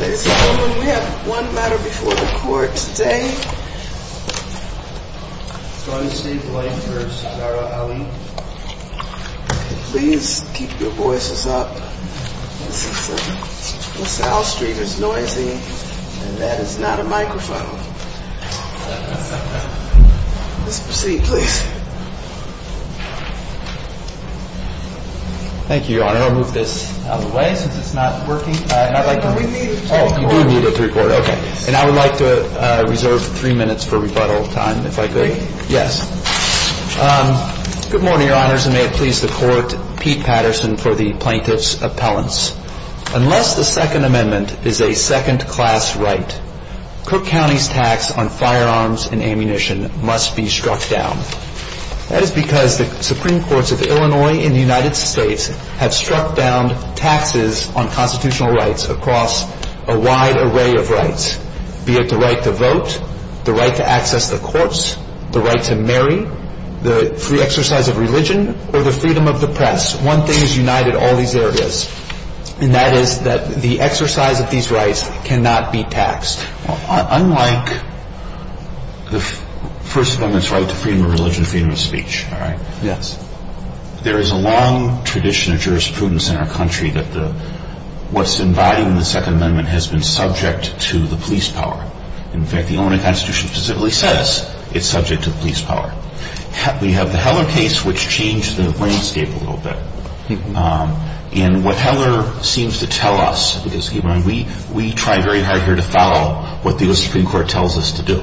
Ladies and gentlemen, we have one matter before the court today. Attorney Steve Blank v. Zahra Ali. Please keep your voices up. This is from Sal Street. It's noisy. And that is not a microphone. Please proceed, please. Thank you, Your Honor. I'll move this out of the way since it's not working. We do need it to record. And I would like to reserve three minutes for rebuttal time, if I could. Good morning, Your Honors, and may it please the Court, Pete Patterson for the Plaintiff's Appellants. Unless the Second Amendment is a second-class right, Cook County's tax on firearms and ammunition must be struck down. That is because the Supreme Courts of Illinois and the United States have constitutional rights across a wide array of rights, be it the right to vote, the right to access the courts, the right to marry, the free exercise of religion, or the freedom of the press. One thing has united all these areas, and that is that the exercise of these rights cannot be taxed. Unlike the First Amendment's right to freedom of religion and freedom of speech, there is a long tradition of jurisprudence in our country that what's embodied in the Second Amendment has been subject to the police power. In fact, the Illinois Constitution specifically says it's subject to the police power. We have the Heller case, which changed the landscape a little bit. And what Heller seems to tell us, because we try very hard here to follow what the U.S. Supreme Court tells us to do.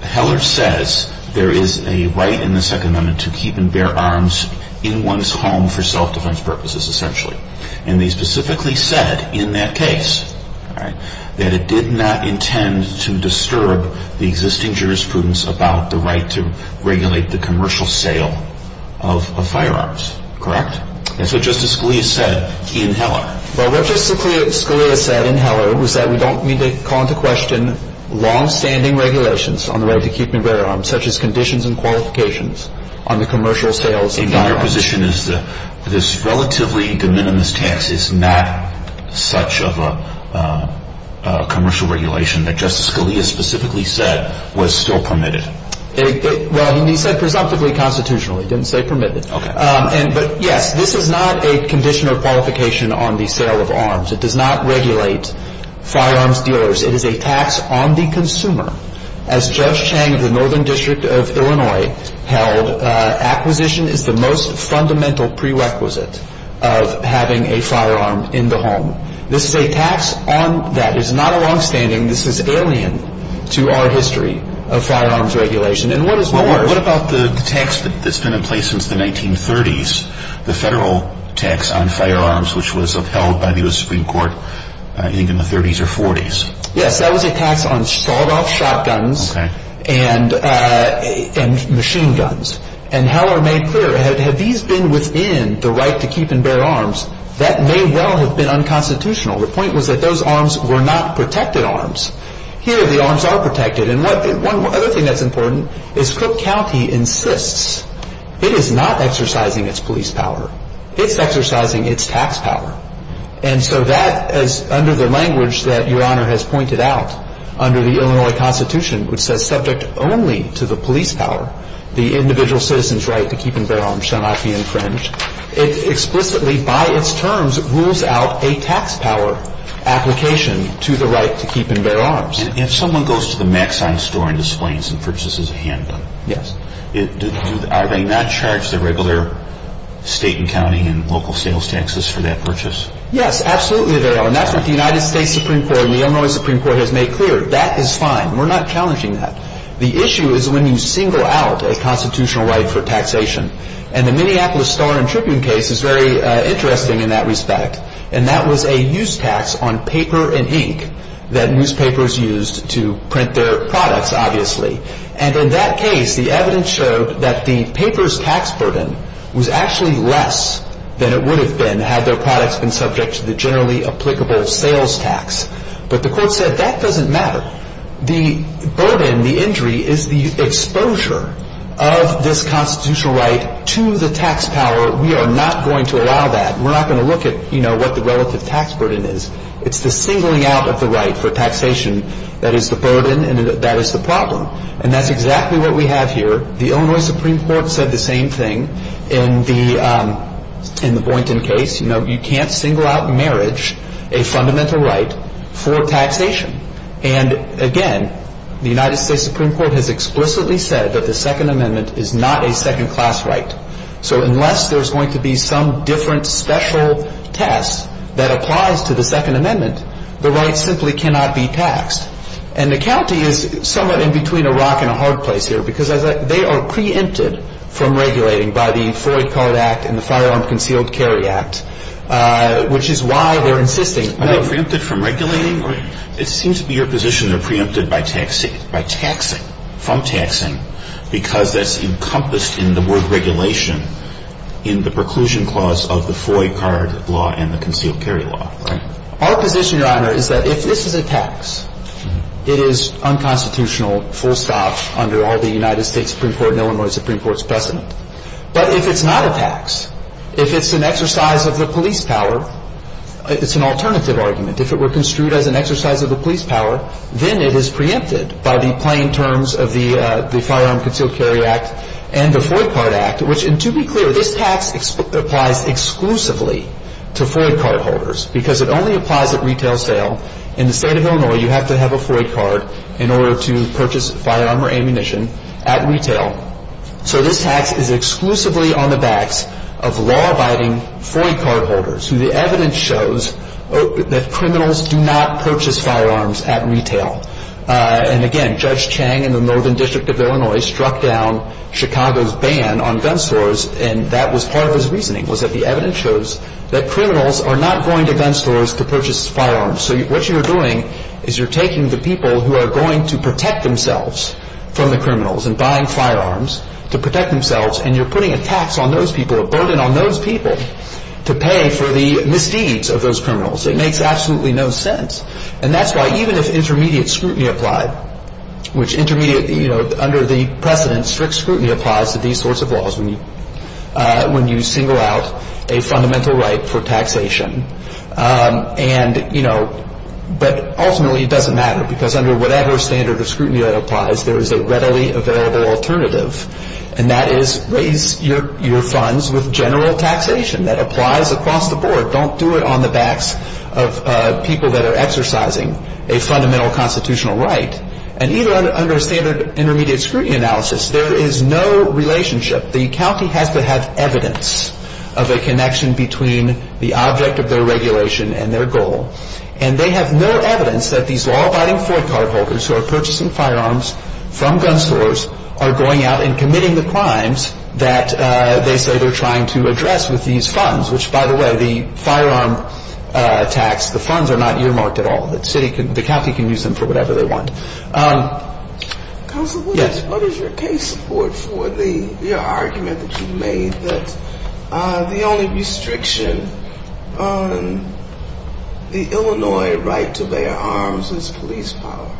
Heller says there is a right in the Second Amendment to keep and bear arms in one's home for self-defense purposes, essentially. And they specifically said in that case that it did not intend to disturb the existing jurisprudence about the right to regulate the commercial sale of firearms. Correct? That's what Justice Scalia said in Heller. Well, what Justice Scalia said in Heller was that we don't need to call into question long-standing regulations on the right to keep and bear arms, such as conditions and qualifications on the commercial sales of firearms. And your position is that this relatively de minimis tax is not such of a commercial regulation that Justice Scalia specifically said was still permitted? Well, he said presumptively constitutionally. He didn't say permitted. But yes, this is not a condition or qualification on the sale of arms. It does not regulate firearms dealers. It is a tax on the consumer, as Judge Chang of the Court held, acquisition is the most fundamental prerequisite of having a firearm in the home. This is a tax that is not a long-standing, this is alien to our history of firearms regulation. And what about the tax that's been in place since the 1930s, the federal tax on firearms which was upheld by the U.S. Supreme Court, I think in the 30s or 40s? Yes, that was a tax on sawed-off shotguns and machine guns. And Heller made clear, had these been within the right to keep and bear arms, that may well have been unconstitutional. The point was that those arms were not protected arms. Here, the arms are protected. And one other thing that's important is Crook County insists it is not exercising its police power. It's exercising its tax power. And so that, as under the language that Your Honor has pointed out, under the Illinois Constitution, which says subject only to the police power, the individual citizen's right to keep and bear arms shall not be infringed, it explicitly, by its terms, rules out a tax power application to the right to keep and bear arms. And if someone goes to the Maxine store and displays and purchases a handgun, are they not charged the regular state and county and local sales taxes for that purchase? Yes, absolutely they are. And that's what the United States Supreme Court and the Illinois Supreme Court has made clear. That is fine. We're not challenging that. The issue is when you single out a constitutional right for taxation. And the Minneapolis Star and Tribune case is very interesting in that respect. And that was a use tax on paper and ink that newspapers used to print their products, obviously. And in that case, the evidence showed that the paper's tax burden was actually less than it would have been had their products been subject to the generally applicable sales tax. But the court said that doesn't matter. The burden, the injury, is the exposure of this constitutional right to the tax power. We are not going to allow that. We're not going to look at, you know, what the relative tax burden is. It's the singling out of the right for taxation that is the burden and that is the problem. And that's exactly what we have here. The Illinois Supreme Court said the same thing in the Boynton case. You know, you can't single out marriage, a fundamental right, for taxation. And again, the United States Supreme Court has explicitly said that the Second Amendment is not a second-class right. So unless there's going to be some different special test that applies to the Second Amendment, the right simply cannot be taxed. And the county is somewhat in between a rock and a hard place here because they are preempted from regulating by the Freud Card Act and the Firearm Concealed Carry Act, which is why they're insisting. Are they preempted from regulating? It seems to be your position they're preempted by taxing, from taxing, because that's encompassed in the word regulation in the preclusion clause of the Freud Card Law and the Concealed Carry Law. Our position, Your Honor, is that if this is a tax, it is unconstitutional, full stop under all the United States Supreme Court and Illinois Supreme Court's precedent. But if it's not a tax, if it's an exercise of the police power, it's an alternative argument. If it were construed as an exercise of the police power, then it is preempted by the plain terms of the Firearm Concealed Carry Act and the Freud Card Act, which to be clear, this tax applies exclusively to Freud Card holders because it only applies at retail sale. In the state of Illinois, you have to have a Freud Card in order to purchase firearm or ammunition at retail. So this tax is exclusively on the backs of law-abiding Freud Card holders, who the evidence shows that criminals do not purchase firearms at retail. And again, Judge Chang in the Northern District of Illinois struck down Chicago's ban on gun stores, and that was part of his reasoning, was that the evidence shows that criminals are not going to gun stores to purchase firearms. So what you're doing is you're taking the people who are going to protect themselves from the criminals and buying firearms to protect themselves, and you're putting a tax on those people, a burden on those people, to pay for the misdeeds of those criminals. It makes absolutely no sense. And that's why even if intermediate scrutiny applied, which intermediate, you know, under the precedent, strict scrutiny applies to these sorts of laws when you single out a fundamental right for taxation, and, you know, but ultimately it doesn't matter because under whatever standard of scrutiny that applies, there is a readily available alternative, and that is raise your funds with general taxation that applies across the board. Don't do it on the backs of people that are exercising a fundamental constitutional right. And even under standard intermediate scrutiny analysis, there is no relationship. The county has to have evidence of a connection between the object of their regulation and their goal. And they have no evidence that these law-abiding Ford card holders who are purchasing firearms from gun stores are going out and committing the crimes that they say they're trying to address with these funds, which, by the way, the firearm tax, the funds are not earmarked at all. The county can use them for whatever they want. What is your case support for the argument that you made that the only restriction on the Illinois right to bear arms is police power?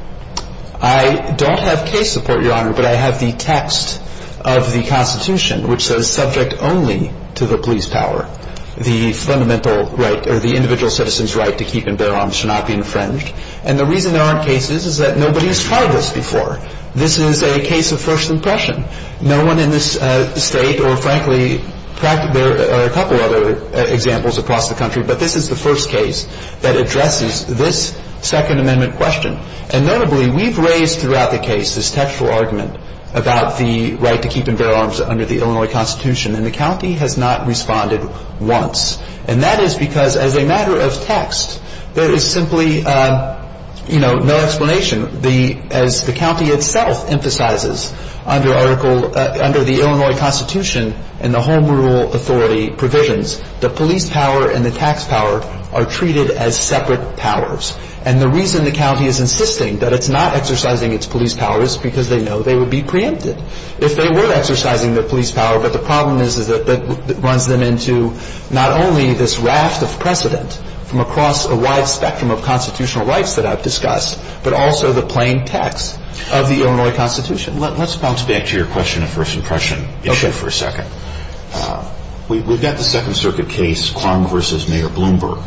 I don't have case support, Your Honor, but I have the text of the Constitution which says subject only to the police power the fundamental right or the individual citizen's right to keep and bear arms should not be infringed. And the reason there aren't cases is that nobody has tried this before. This is a case of first impression. No one in this state or, frankly, there are a couple other examples across the country that addresses this Second Amendment question. And notably, we've raised throughout the case this textual argument about the right to keep and bear arms under the Illinois Constitution, and the county has not responded once. And that is because as a matter of text, there is simply no explanation. As the county itself emphasizes under the Illinois Constitution and the Home Rule Authority provisions, the police power and the individual citizen's right are separate powers. And the reason the county is insisting that it's not exercising its police power is because they know they would be preempted if they were exercising their police power. But the problem is that it runs them into not only this raft of precedent from across a wide spectrum of constitutional rights that I've discussed, but also the plain text of the Illinois Constitution. Let's bounce back to your question of first impression issue for a second. We've got the Second Circuit case, Quong v. Mayor Bloomberg,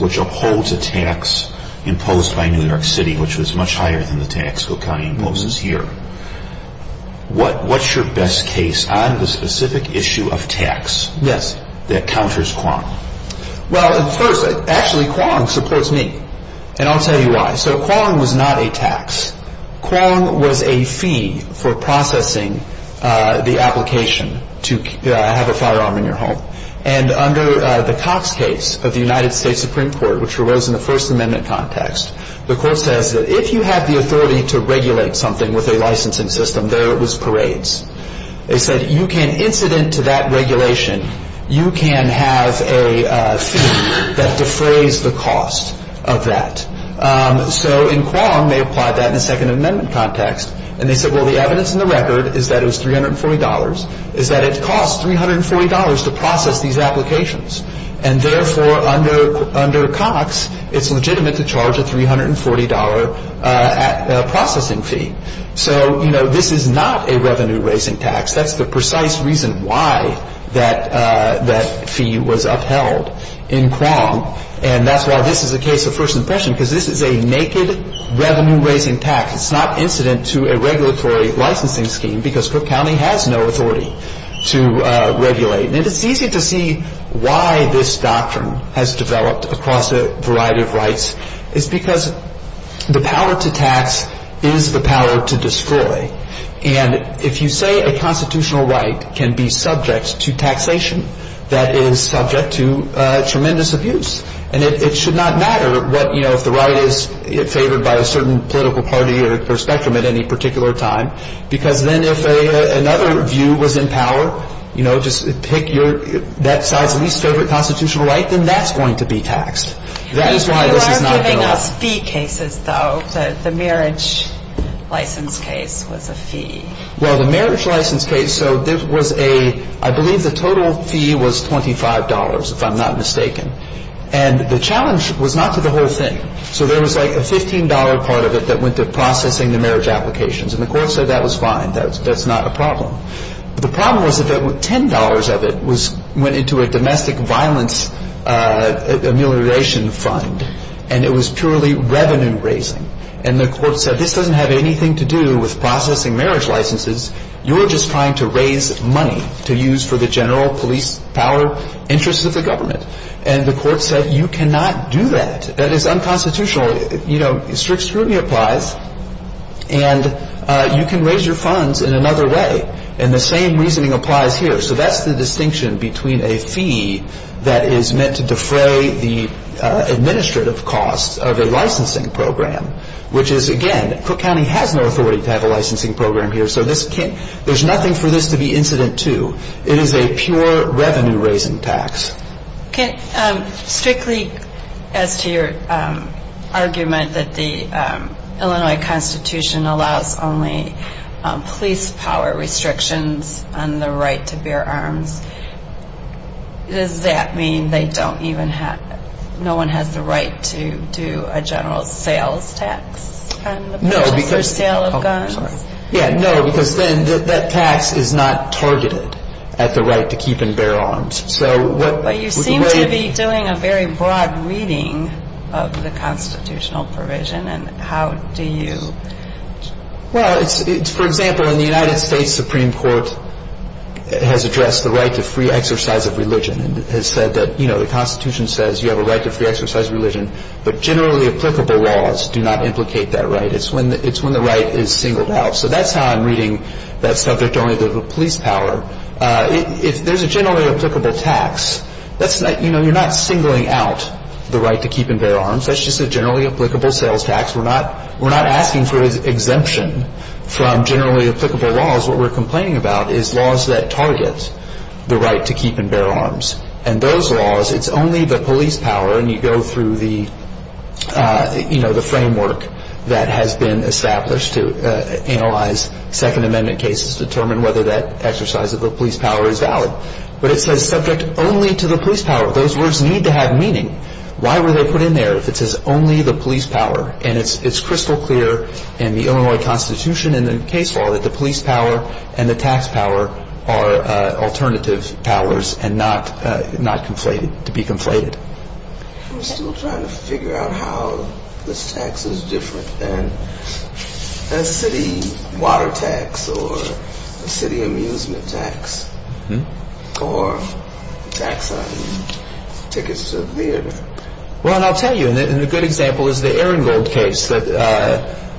which upholds a tax imposed by New York City which was much higher than the tax the county imposes here. What's your best case on the specific issue of tax that counters Quong? Well, first, actually Quong supports me, and I'll tell you why. So Quong was not a tax. Quong was a fee for processing the application to have a firearm in your home. And under the Cox case of the United States Supreme Court, which arose in the First Amendment context, the court says that if you have the authority to regulate something with a licensing system, there it was parades. They said you can incident to that regulation, you can have a fee that defrays the cost of that. So in Quong, they applied that in the Second Amendment context, and they said, well, the evidence in the record is that it was $340, is that it costs $340 to process these applications, and therefore under Cox, it's legitimate to charge a $340 processing fee. So, you know, this is not a revenue-raising tax. That's the precise reason why that fee was upheld in Quong, and that's why this is a case of first impression, because this is a naked revenue-raising tax. It's not incident to a regulatory licensing scheme, because Cook County has no authority to regulate. And it's easy to see why this doctrine has developed across a variety of rights. It's because the power to tax is the power to destroy. And if you say a constitutional right can be subject to taxation, that is subject to tremendous abuse. And it should not matter what, you know, if the right is favored by a certain political party or spectrum at any particular time, because then if another view was in power, you know, just pick your, that side's least favorite constitutional right, then that's going to be taxed. That is why this is not going to work. You are giving us fee cases, though. The marriage license case was a fee. Well, the marriage license case, so there was a I believe the total fee was $25, if I'm not mistaken. And the challenge was not to the whole thing. So there was like a $15 part of it that went to processing the marriage applications. And the court said that was fine. That's not a problem. The problem was that $10 of it went into a domestic violence amelioration fund. And it was purely revenue-raising. And the court said, this doesn't have anything to do with processing marriage licenses. You're just trying to raise money to use for the general police power interests of the government. And the court said, you cannot do that. That is unconstitutional. You know, strict scrutiny applies. And you can raise your funds in another way. And the same reasoning applies here. So that's the distinction between a fee that is meant to defray the administrative costs of a licensing program, which is, again, Cook County has no authority to have a licensing program here, so this can't, there's nothing for this to be incident to. It is a pure revenue-raising tax. Strictly as to your argument that the Illinois Constitution allows only police power restrictions on the right to bear arms, does that mean they don't even have, no one has the right to do a general sales tax? No, because then that tax is not targeted at the right to keep and bear arms. But you seem to be doing a very broad reading of the constitutional provision, and how do you Well, for example, in the United States Supreme Court has addressed the right to free exercise of religion and has said that, you know, the Constitution says you have a right to free exercise of religion, but generally applicable laws do not implicate that right. It's when the right is singled out. So that's how I'm reading that subject only to the police power. If there's a generally applicable tax, that's not, you know, you're not singling out the right to keep and bear arms. That's just a generally applicable sales tax. We're not asking for exemption from generally applicable laws. What we're complaining about is laws that target the right to keep and bear arms. And those laws, it's only the police power, and you go through the, you know, the framework that has been established to analyze Second Amendment cases, determine whether that exercise of the police power is valid. But it says subject only to the police power. Those words need to have meaning. Why were they put in there if it says only the police power? And it's crystal clear in the Illinois Constitution and the case law that the police power and the tax power are alternative powers and not conflated, to be conflated. I'm still trying to figure out how this tax is different than a city water tax or a city amusement tax or tax on tickets to theater. Well, and I'll tell you, and a good example is the Erringold case that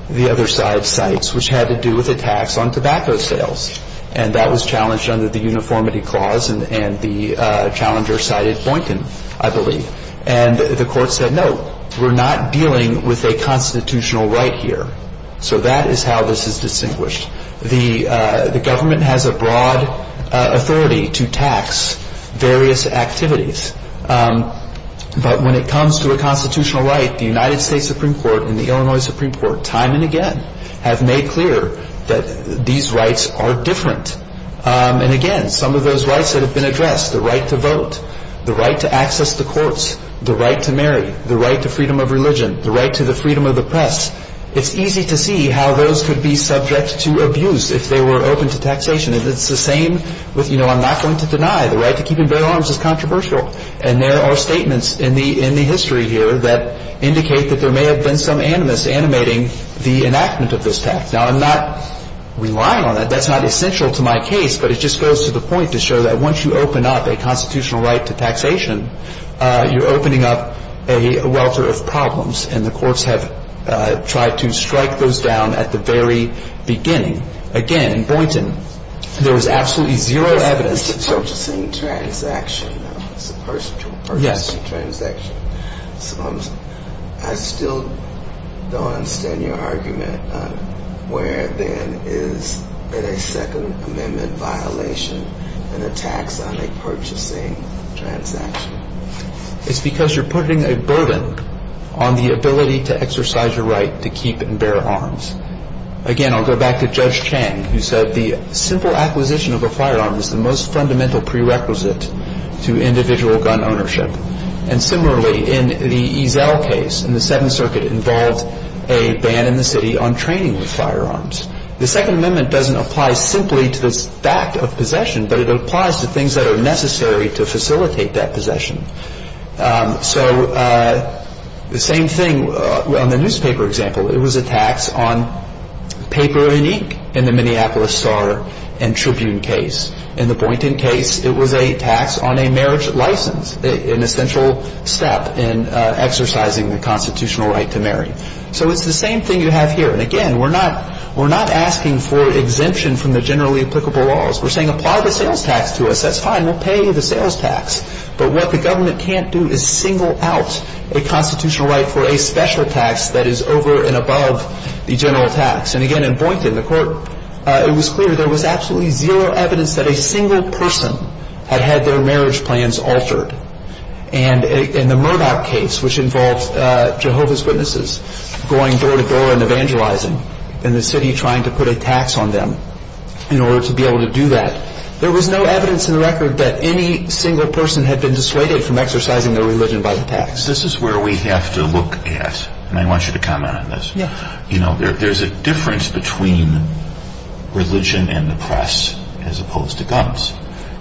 the other side cites, which had to do with a tax on tobacco sales. And that was challenged under the uniformity clause, and the challenger cited Boynton, I believe. And the challenger said, well, we're not dealing with a constitutional right here. So that is how this is distinguished. The government has a broad authority to tax various activities. But when it comes to a constitutional right, the United States Supreme Court and the Illinois Supreme Court, time and again, have made clear that these rights are different. And again, some of those rights that have been addressed, the right to vote, the right to access the courts, the right to marry, the right to freedom of religion, the right to the freedom of the press, it's easy to see how those could be subject to abuse if they were open to taxation. And it's the same with, you know, I'm not going to deny the right to keep and bear arms is controversial. And there are statements in the history here that indicate that there may have been some animus animating the enactment of this tax. Now, I'm not relying on that. That's not essential to my case, but it just goes to the point to show that once you open up a constitutional right to taxation, you're opening up a welter of problems. And the courts have tried to strike those down at the very beginning. Again, Boynton, there was absolutely zero evidence. It's because you're putting a burden on the ability to exercise your right to keep and bear arms. Again, I'll go back to Judge Chang, who said the simple acquisition of a firearm is the most fundamental prerequisite to individual gun ownership. And similarly, in the Ezell case, in the Seventh Circuit, it involved a ban in the city on training with firearms. The Second Amendment doesn't apply simply to the fact of possession, but it applies to things that are necessary to facilitate that possession. So the same thing on the newspaper example, it was a tax on paper unique in the Minneapolis Star and Tribune case. In the Boynton case, it was a tax on a marriage license, an essential step in exercising the constitutional right to marry. So it's the same thing you have here. And again, we're not asking for exemption from the generally applicable laws. We're saying apply the sales tax to us. That's fine. We'll pay you the sales tax. But what the government can't do is single out a constitutional right for a special tax that is over and above the general tax. And again, in Boynton, in the court, it was clear there was absolutely zero evidence that a single person had had their marriage plans altered. And in the Murdoch case, which involved Jehovah's Witnesses going door-to-door and evangelizing, and the city trying to put a tax on them in order to be able to do that, there was no evidence in the record that any single person had been dissuaded from exercising their religion by the tax. This is where we have to look at, and I want you to comment on this. There's a difference between religion and the press as opposed to guns.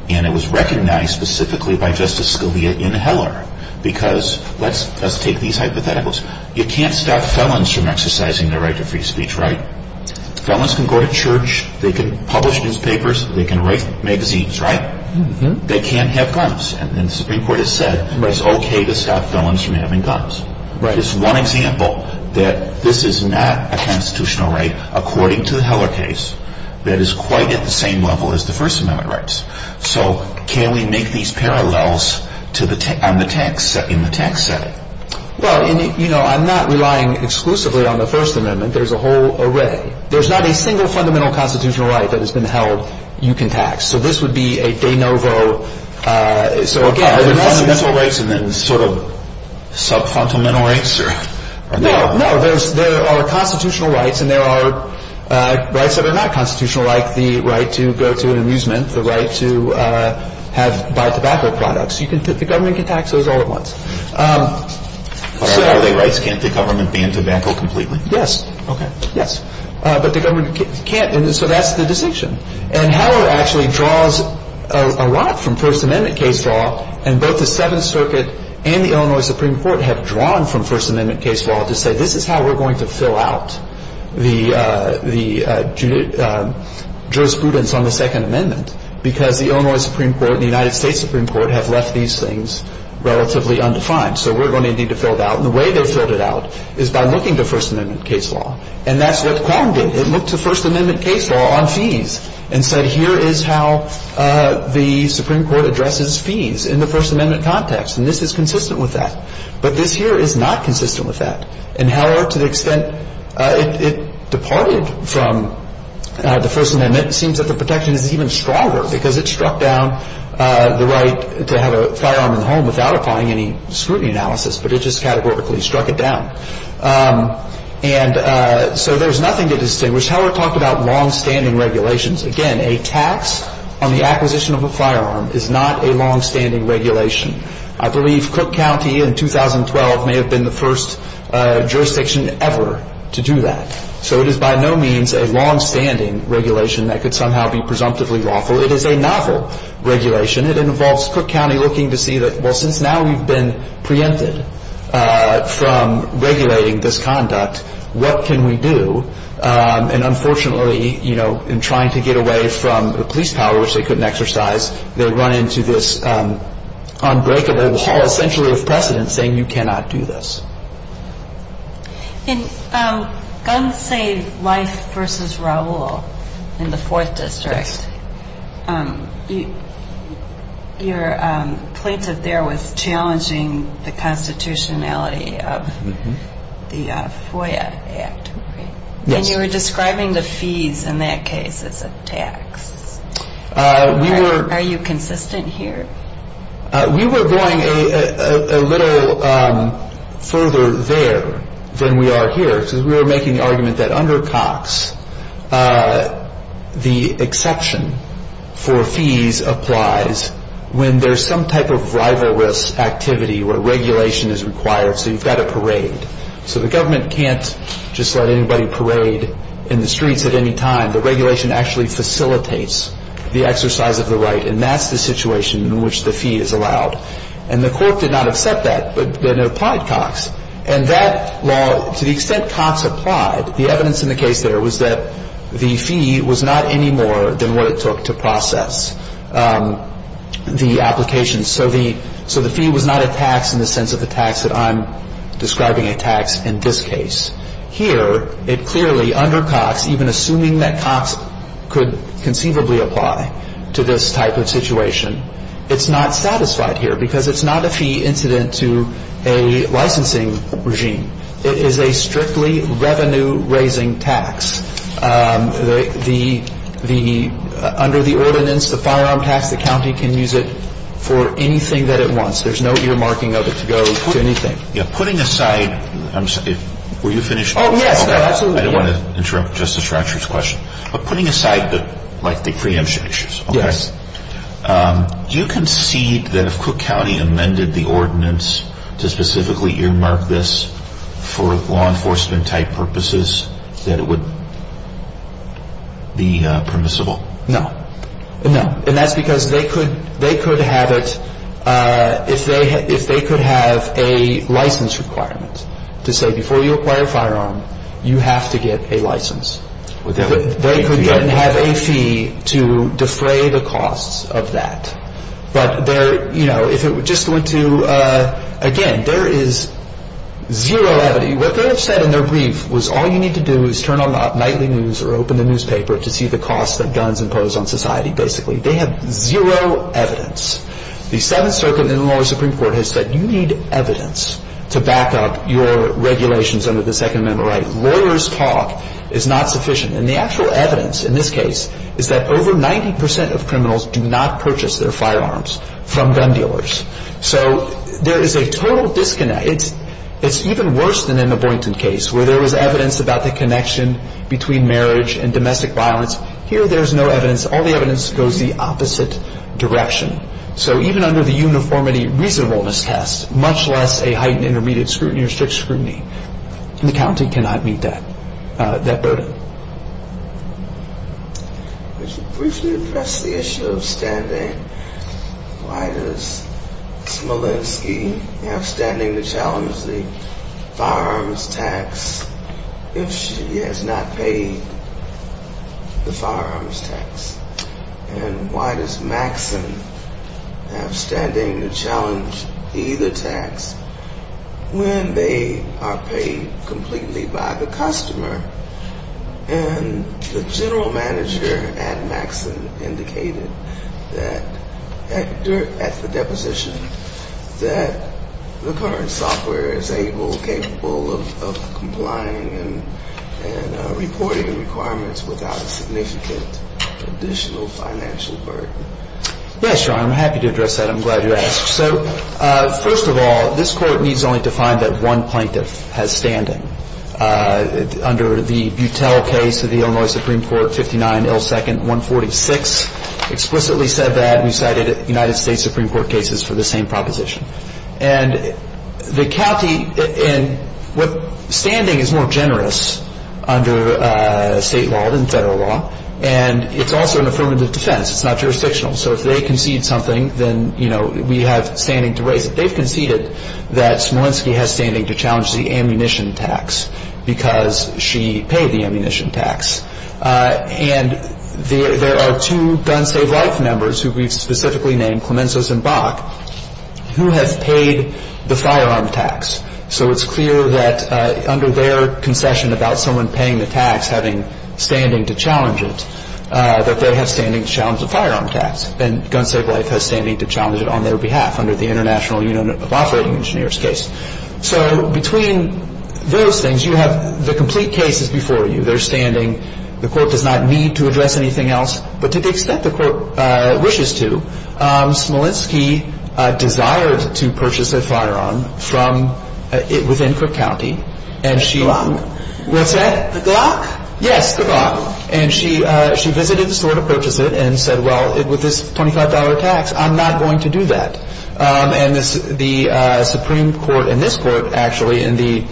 And it was recognized specifically by Justice Scalia in Heller. Because let's take these hypotheticals. You can't stop felons from exercising their right to free speech. Felons can go to church. They can publish newspapers. They can write magazines. They can't have guns. And the Supreme Court has said it's okay to stop felons from having guns. It's one example that this is not a constitutional right, according to the Heller case, that is quite at the same level as the First Amendment rights. So can we make these parallels in the tax setting? I'm not relying exclusively on the First Amendment. There's a whole array. There's not a single fundamental constitutional right that has been held you can tax. So this would be a de novo... Fundamental rights and then sort of sub-fundamental rights? No, no. There are constitutional rights and there are rights that are not constitutional, like the right to go to an amusement, the right to buy tobacco products. The government can tax those all at once. But are they rights? Can't the government ban tobacco completely? Yes. But the government can't. So that's the distinction. And Heller actually draws a lot from First Amendment case law, and both the Seventh Circuit and the Illinois Supreme Court have drawn from First Amendment case law to say this is how we're going to fill out the jurisprudence on the Second Amendment, because the Illinois Supreme Court and the United States Supreme Court have left these things relatively undefined. So we're going to need to fill it out. And the way they filled it out is by looking to First Amendment case law. And that's what Quam did. It looked to First Amendment case law on fees and said here is how the Supreme Court addresses fees in the First Amendment context. And this is consistent with that. But this here is not consistent with that. And Heller, to the extent it departed from the First Amendment, it seems that the protection is even stronger because it struck down the right to have a firearm in the home without applying any scrutiny analysis, but it just categorically struck it down. And so there's nothing to distinguish. Heller talked about longstanding regulations. Again, a tax on the acquisition of a firearm is not a longstanding regulation. I believe Cook County in 2012 may have been the first jurisdiction ever to do that. So it is by no means a longstanding regulation that could somehow be presumptively lawful. It is a novel regulation. It involves Cook County looking to see that, well, since now we've been preempted from regulating this conduct, what can we do? And unfortunately, you know, in trying to get away from the police power, which they couldn't exercise, they run into this unbreakable wall essentially of precedent saying you cannot do this. In Gun Save Life v. Raul in the Fourth District, your plaintiff there was challenging the constitutionality of the tax. And you were describing the fees in that case as a tax. Are you consistent here? We were going a little further there than we are here because we were making the argument that under Cox, the exception for fees applies when there's some type of rivalrous activity where regulation is required. So you've got to parade. So the government can't just let anybody parade in the streets at any time. The regulation actually facilitates the exercise of the right, and that's the situation in which the fee is allowed. And the Court did not accept that, but then it applied Cox. And that law, to the extent Cox applied, the evidence in the case there was that the fee was not any more than what it took to process the application. So the fee was not a tax in the sense of the tax that I'm describing a tax in this case. Here, it clearly, under Cox, even assuming that Cox could conceivably apply to this type of situation, it's not satisfied here because it's not a fee incident to a licensing regime. It is a strictly revenue-raising tax. The under the ordinance, the firearm tax, the county can use it for anything that it wants. There's no earmarking of it to go to anything. I don't want to interrupt Justice Ratcher's question, but putting aside the preemption issues, do you concede that if Cook County amended the ordinance to specifically earmark this for law enforcement-type purposes that it would be permissible? No. And that's because they could have it if they could have a license requirement to say before you acquire a firearm, you have to get a license. They could get and have a fee to defray the costs of that. Again, there is zero evidence. What they would have said in their brief was all you need to do is turn on the nightly news or open the newspaper to see the costs that guns impose on society, basically. They have zero evidence. The Seventh Circuit in the lower Supreme Court has said you need evidence to back up your regulations under the Second Amendment right. Lawyers' talk is not sufficient. And the actual evidence in this case is that over 90 percent of criminals do not purchase their firearms from gun dealers. So there is a total disconnect. It's even worse than in the Boynton case where there was evidence about the connection between marriage and domestic violence. Here there is no evidence. All the evidence goes the opposite direction. So even under the uniformity reasonableness test, much less a heightened intermediate scrutiny or strict scrutiny, the county cannot meet that burden. Could you briefly address the issue of standing? Why does Smolenski have standing to challenge the firearms tax if she has not paid the firearms tax? And why does Maxson have standing to challenge either tax when they are paid completely by the customer? And the general manager at Maxson indicated at the deposition that the current software is able, capable of complying and reporting requirements without a significant additional financial burden. Yes, Your Honor. I'm happy to address that. I'm glad you asked. So first of all, this Court needs only to find that one plaintiff has standing. Under the Buttel case of the Illinois Supreme Court, 59-L-2nd-146, explicitly said that. We cited United States Supreme Court cases for the same proposition. And the county and what standing is more generous under state law than federal law. And it's also an affirmative defense. It's not jurisdictional. So if they concede something, then, you know, we have standing to raise it. They've conceded that Smolenski has standing to challenge the ammunition tax because she paid the ammunition tax. And there are two Gun Save Life members who we've specifically named, Clemenzos and Bach, who have paid the firearm tax. So it's clear that under their concession about someone paying the tax having standing to challenge it, that they have standing to challenge the firearm tax. And Gun Save Life has standing to challenge it on their behalf under the International Union of Operating Engineers case. So between those things, you have the complete cases before you. They're standing. The Court does not need to address anything else. But to the extent the Court wishes to, Smolenski desired to purchase a firearm from within Cook County. And she... The Glock? What's that? The Glock? Yes, the Glock. And she visited the store to purchase it and said, well, with this $25 tax, I'm not going to do that. And the Supreme Court and this Court, actually, in the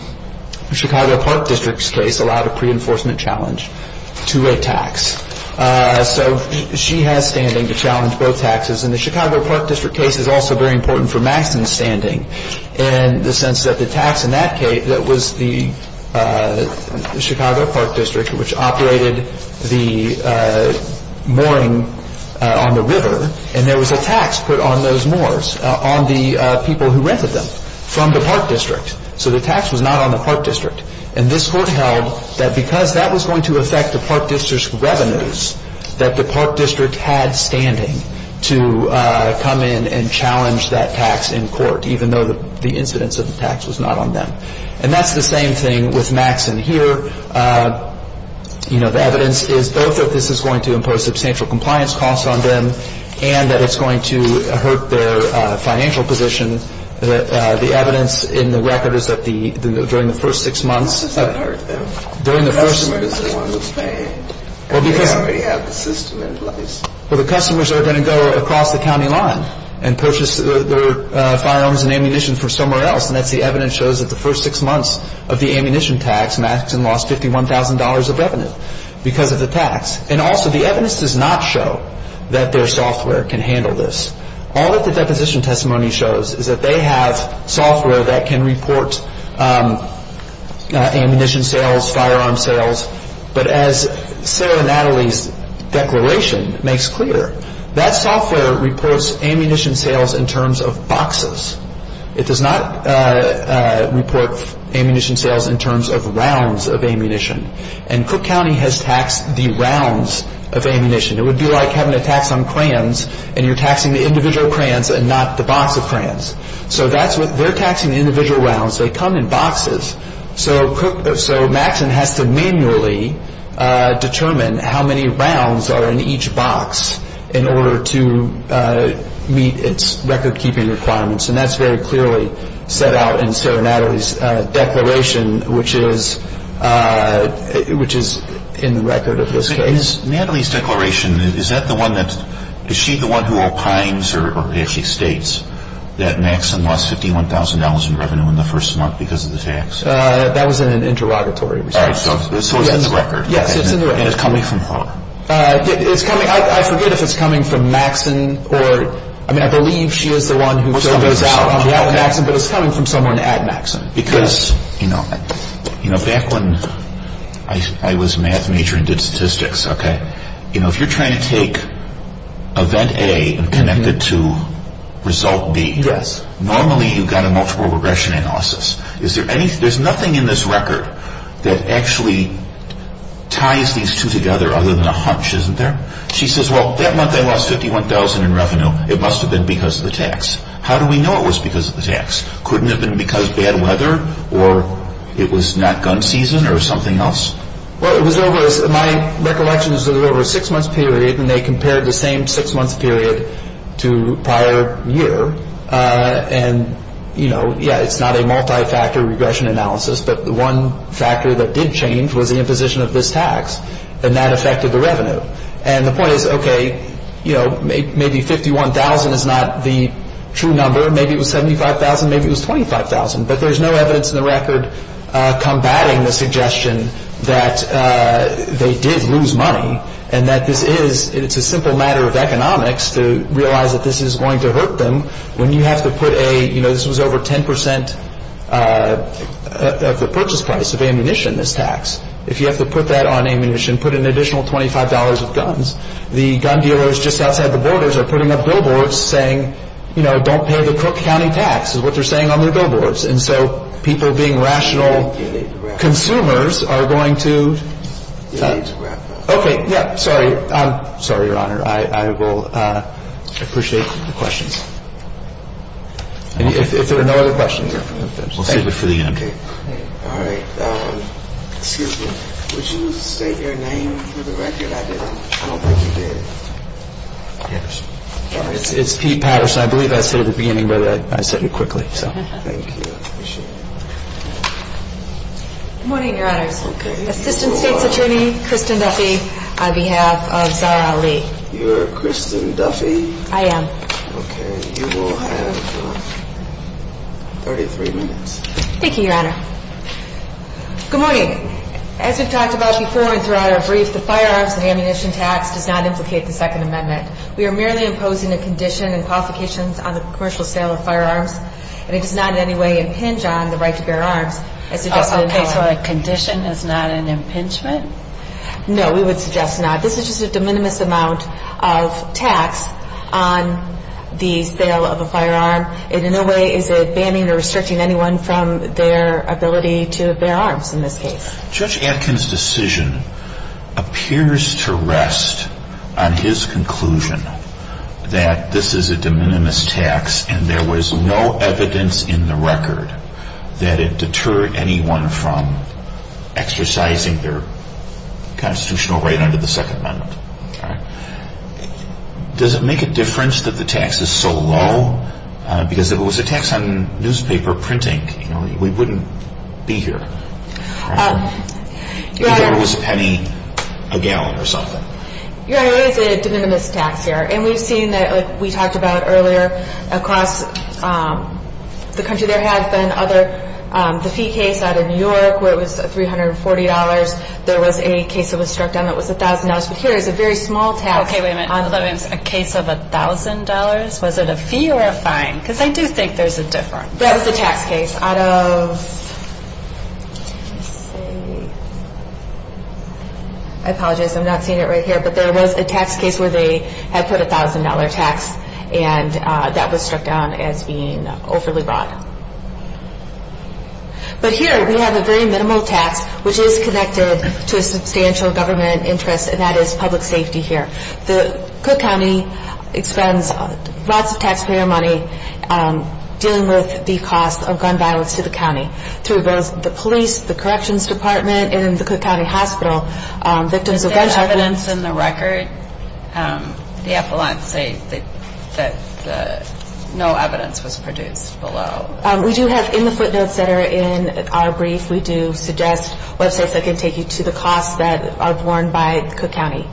Chicago Park District's case, allowed a pre-enforcement challenge to a tax. So she has standing to challenge both taxes. And the Chicago Park District case is also very important for Maxine's standing in the sense that the tax in that case, that was the Chicago Park District, which operated the mooring on the river. And there was a tax put on those moors, on the people who rented them from the Park District. So the tax was not on the Park District. And this Court held that because that was going to affect the Park District's revenues, that the Park District was going to have to come in and challenge that tax in court, even though the incidence of the tax was not on them. And that's the same thing with Maxine here. You know, the evidence is both that this is going to impose substantial compliance costs on them and that it's going to hurt their financial position. The evidence in the record is that during the first six months... How does that hurt them? During the first... The customer is the one who's paying. Well, because... They already have the system in place. Well, the customers are going to go across the county line and purchase their firearms and ammunition from somewhere else. And that's the evidence shows that the first six months of the ammunition tax, Maxine lost $51,000 of revenue because of the tax. And also, the evidence does not show that their software can handle this. All that the deposition testimony shows is that they have software that can report ammunition sales, but as Sarah Natalie's declaration makes clear, that software reports ammunition sales in terms of boxes. It does not report ammunition sales in terms of rounds of ammunition. And Cook County has taxed the rounds of ammunition. It would be like having a tax on crayons, and you're taxing the individual crayons and not the box of crayons. So that's what... They're taxing individual rounds. They come in boxes. So Maxine has to manually determine how many rounds are in each box in order to meet its record-keeping requirements. And that's very clearly set out in Sarah Natalie's declaration, which is in the record of this case. Natalie's declaration, is that the one that... Is she the one who opines or actually states that Maxine lost $51,000 in revenue in the first month because of the tax? That was an interrogatory response. So it's in the record? Yes, it's in the record. And it's coming from her? It's coming... I forget if it's coming from Maxine or... I mean, I believe she is the one who filled this out. But it's coming from someone at Maxine. Because, you know, back when I was a math major and did statistics, okay, you know, if you're trying to take event A and connect it to result B, normally you've got a multiple regression analysis. There's nothing in this record that actually ties these two together other than a hunch, isn't there? She says, well, that month I lost $51,000 in revenue. It must have been because of the tax. How do we know it was because of the tax? Couldn't it have been because of bad weather or it was not gun season or something else? Well, my recollection is that it was over a six-month period and they compared the same six-month period to prior year. And, you know, yeah, it's not a multi-factor regression analysis, but the one factor that did change was the imposition of this tax. And that affected the revenue. And the point is, okay, you know, maybe 51,000 is not the true number. Maybe it was 75,000. Maybe it was 25,000. But there's no evidence in the record combating the suggestion that they did lose money and that this is a simple matter of economics to realize that this is going to hurt them when you have to put a, you know, this was over 10% of the purchase price of ammunition, this tax. If you have to put that on ammunition, put an additional $25 of guns, the gun dealers just outside the borders are putting up billboards saying, you know, don't pay the Cook County tax is what they're saying on their billboards. And so people being rational consumers are going to. Okay. Yeah. Sorry. Sorry, Your Honor. I will appreciate the questions. If there are no other questions. We'll save it for the end. All right. Excuse me. Would you state your name for the record? I don't think you did. Yes. It's Pete Patterson. I believe I said it at the beginning, but I said it quickly. Thank you. Appreciate it. Good morning, Your Honors. Assistant State's Attorney, Kristen Duffy, on behalf of Zahra Ali. You're Kristen Duffy? I am. Okay. You will have 33 minutes. Thank you, Your Honor. Good morning. As we've talked about before and throughout our brief, the firearms and ammunition tax does not implicate the Second Amendment. We are merely imposing a condition and qualifications on the commercial sale of firearms, and it does not in any way impinge on the right to bear arms. Okay. So a condition is not an impingement? No. We would suggest not. This is just a de minimis amount of tax on the sale of a firearm, and in no way is it banning or restricting anyone from their ability to bear arms in this case. Judge Atkin's decision appears to rest on his conclusion that this is a de minimis tax and there was no evidence in the record that it deterred anyone from exercising their constitutional right under the Second Amendment. Does it make a difference that the tax is so low? Because if it was a tax on newspaper printing, we wouldn't be here. If it was a penny a gallon or something. Your Honor, it is a de minimis tax here, and we've seen that, like we talked about earlier, across the country there have been other, the fee case out of New York where it was $340. There was a case that was struck down that was $1,000, but here it's a very small tax. Okay, wait a minute. A case of $1,000, was it a fee or a fine? Because I do think there's a difference. That was a tax case out of, let's see, I apologize, I'm not seeing it right here, but there was a tax case where they had put a $1,000 tax and that was struck down as being overly broad. But here we have a very minimal tax, which is connected to a substantial government interest, and that is public safety here. The Cook County expends lots of taxpayer money dealing with the cost of gun violence to the county, through both the police, the corrections department, and the Cook County Hospital. Is there evidence in the record, the appellant, say that no evidence was produced below? We do have in the footnotes that are in our brief, we do suggest websites that can take you to the costs that are borne by Cook County.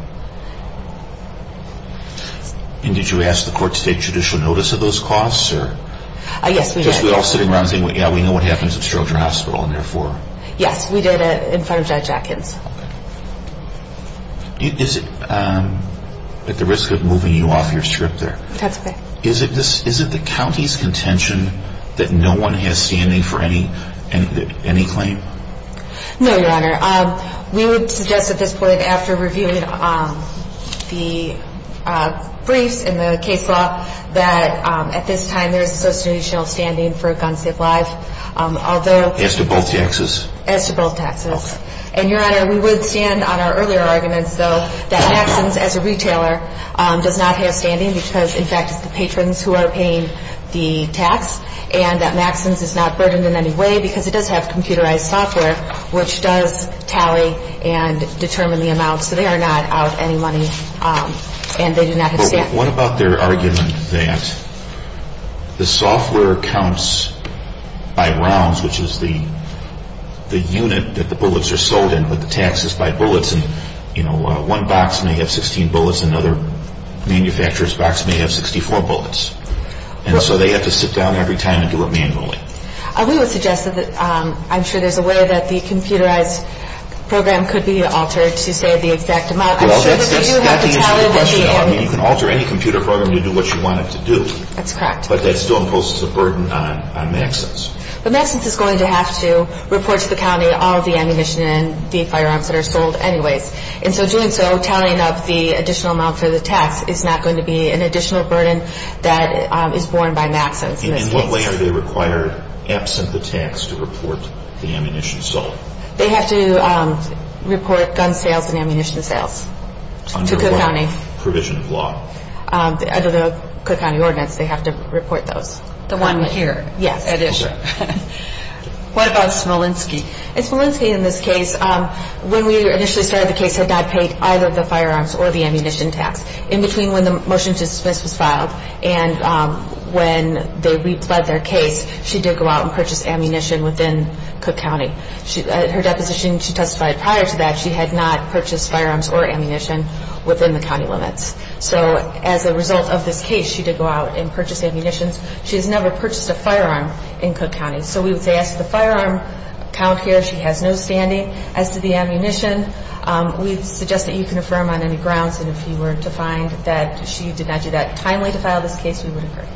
And did you ask the court to take judicial notice of those costs? Yes, we did. Because we're all sitting around saying, yeah, we know what happens at Stroger Hospital, and therefore. Yes, we did in front of Judge Atkins. Is it at the risk of moving you off your strip there? That's okay. Is it the county's contention that no one has standing for any claim? No, Your Honor. We would suggest at this point, after reviewing the briefs and the case law, that at this time there is a substantial standing for a gun safe life, although... As to both taxes? As to both taxes. Okay. And, Your Honor, we would stand on our earlier arguments, though, that Maxson's, as a retailer, does not have standing because, in fact, it's the patrons who are paying the tax, and that Maxson's is not burdened in any way because it does have computerized software, which does tally and determine the amount. So they are not out any money, and they do not have standing. Well, what about their argument that the software counts by rounds, which is the unit that the bullets are sold in, with the taxes by bullets, and, you know, one box may have 16 bullets, another manufacturer's box may have 64 bullets. And so they have to sit down every time and do it manually. We would suggest that I'm sure there's a way that the computerized program could be altered to save the exact amount... Well, that's the issue of the question, though. I mean, you can alter any computer program to do what you want it to do. That's correct. But that still imposes a burden on Maxson's. But Maxson's is going to have to report to the county all the ammunition and the firearms that are sold anyways. And so doing so, tallying up the additional amount for the tax, is not going to be an additional burden that is borne by Maxson's. And in what way are they required, absent the tax, to report the ammunition sold? They have to report gun sales and ammunition sales to Cook County. Under what provision of law? Under the Cook County ordinance, they have to report those. The one here. Yes. At issue. What about Smolenski? Smolenski, in this case, when we initially started the case, had not paid either the firearms or the ammunition tax. In between when the motion to dismiss was filed and when they re-pled their case, she did go out and purchase ammunition within Cook County. Her deposition she testified prior to that, she had not purchased firearms or ammunition within the county limits. So as a result of this case, she did go out and purchase ammunition. She has never purchased a firearm in Cook County. So we would say as to the firearm count here, she has no standing. As to the ammunition, we suggest that you can affirm on any grounds, and if you were to find that she did not do that timely to file this case, we would affirm.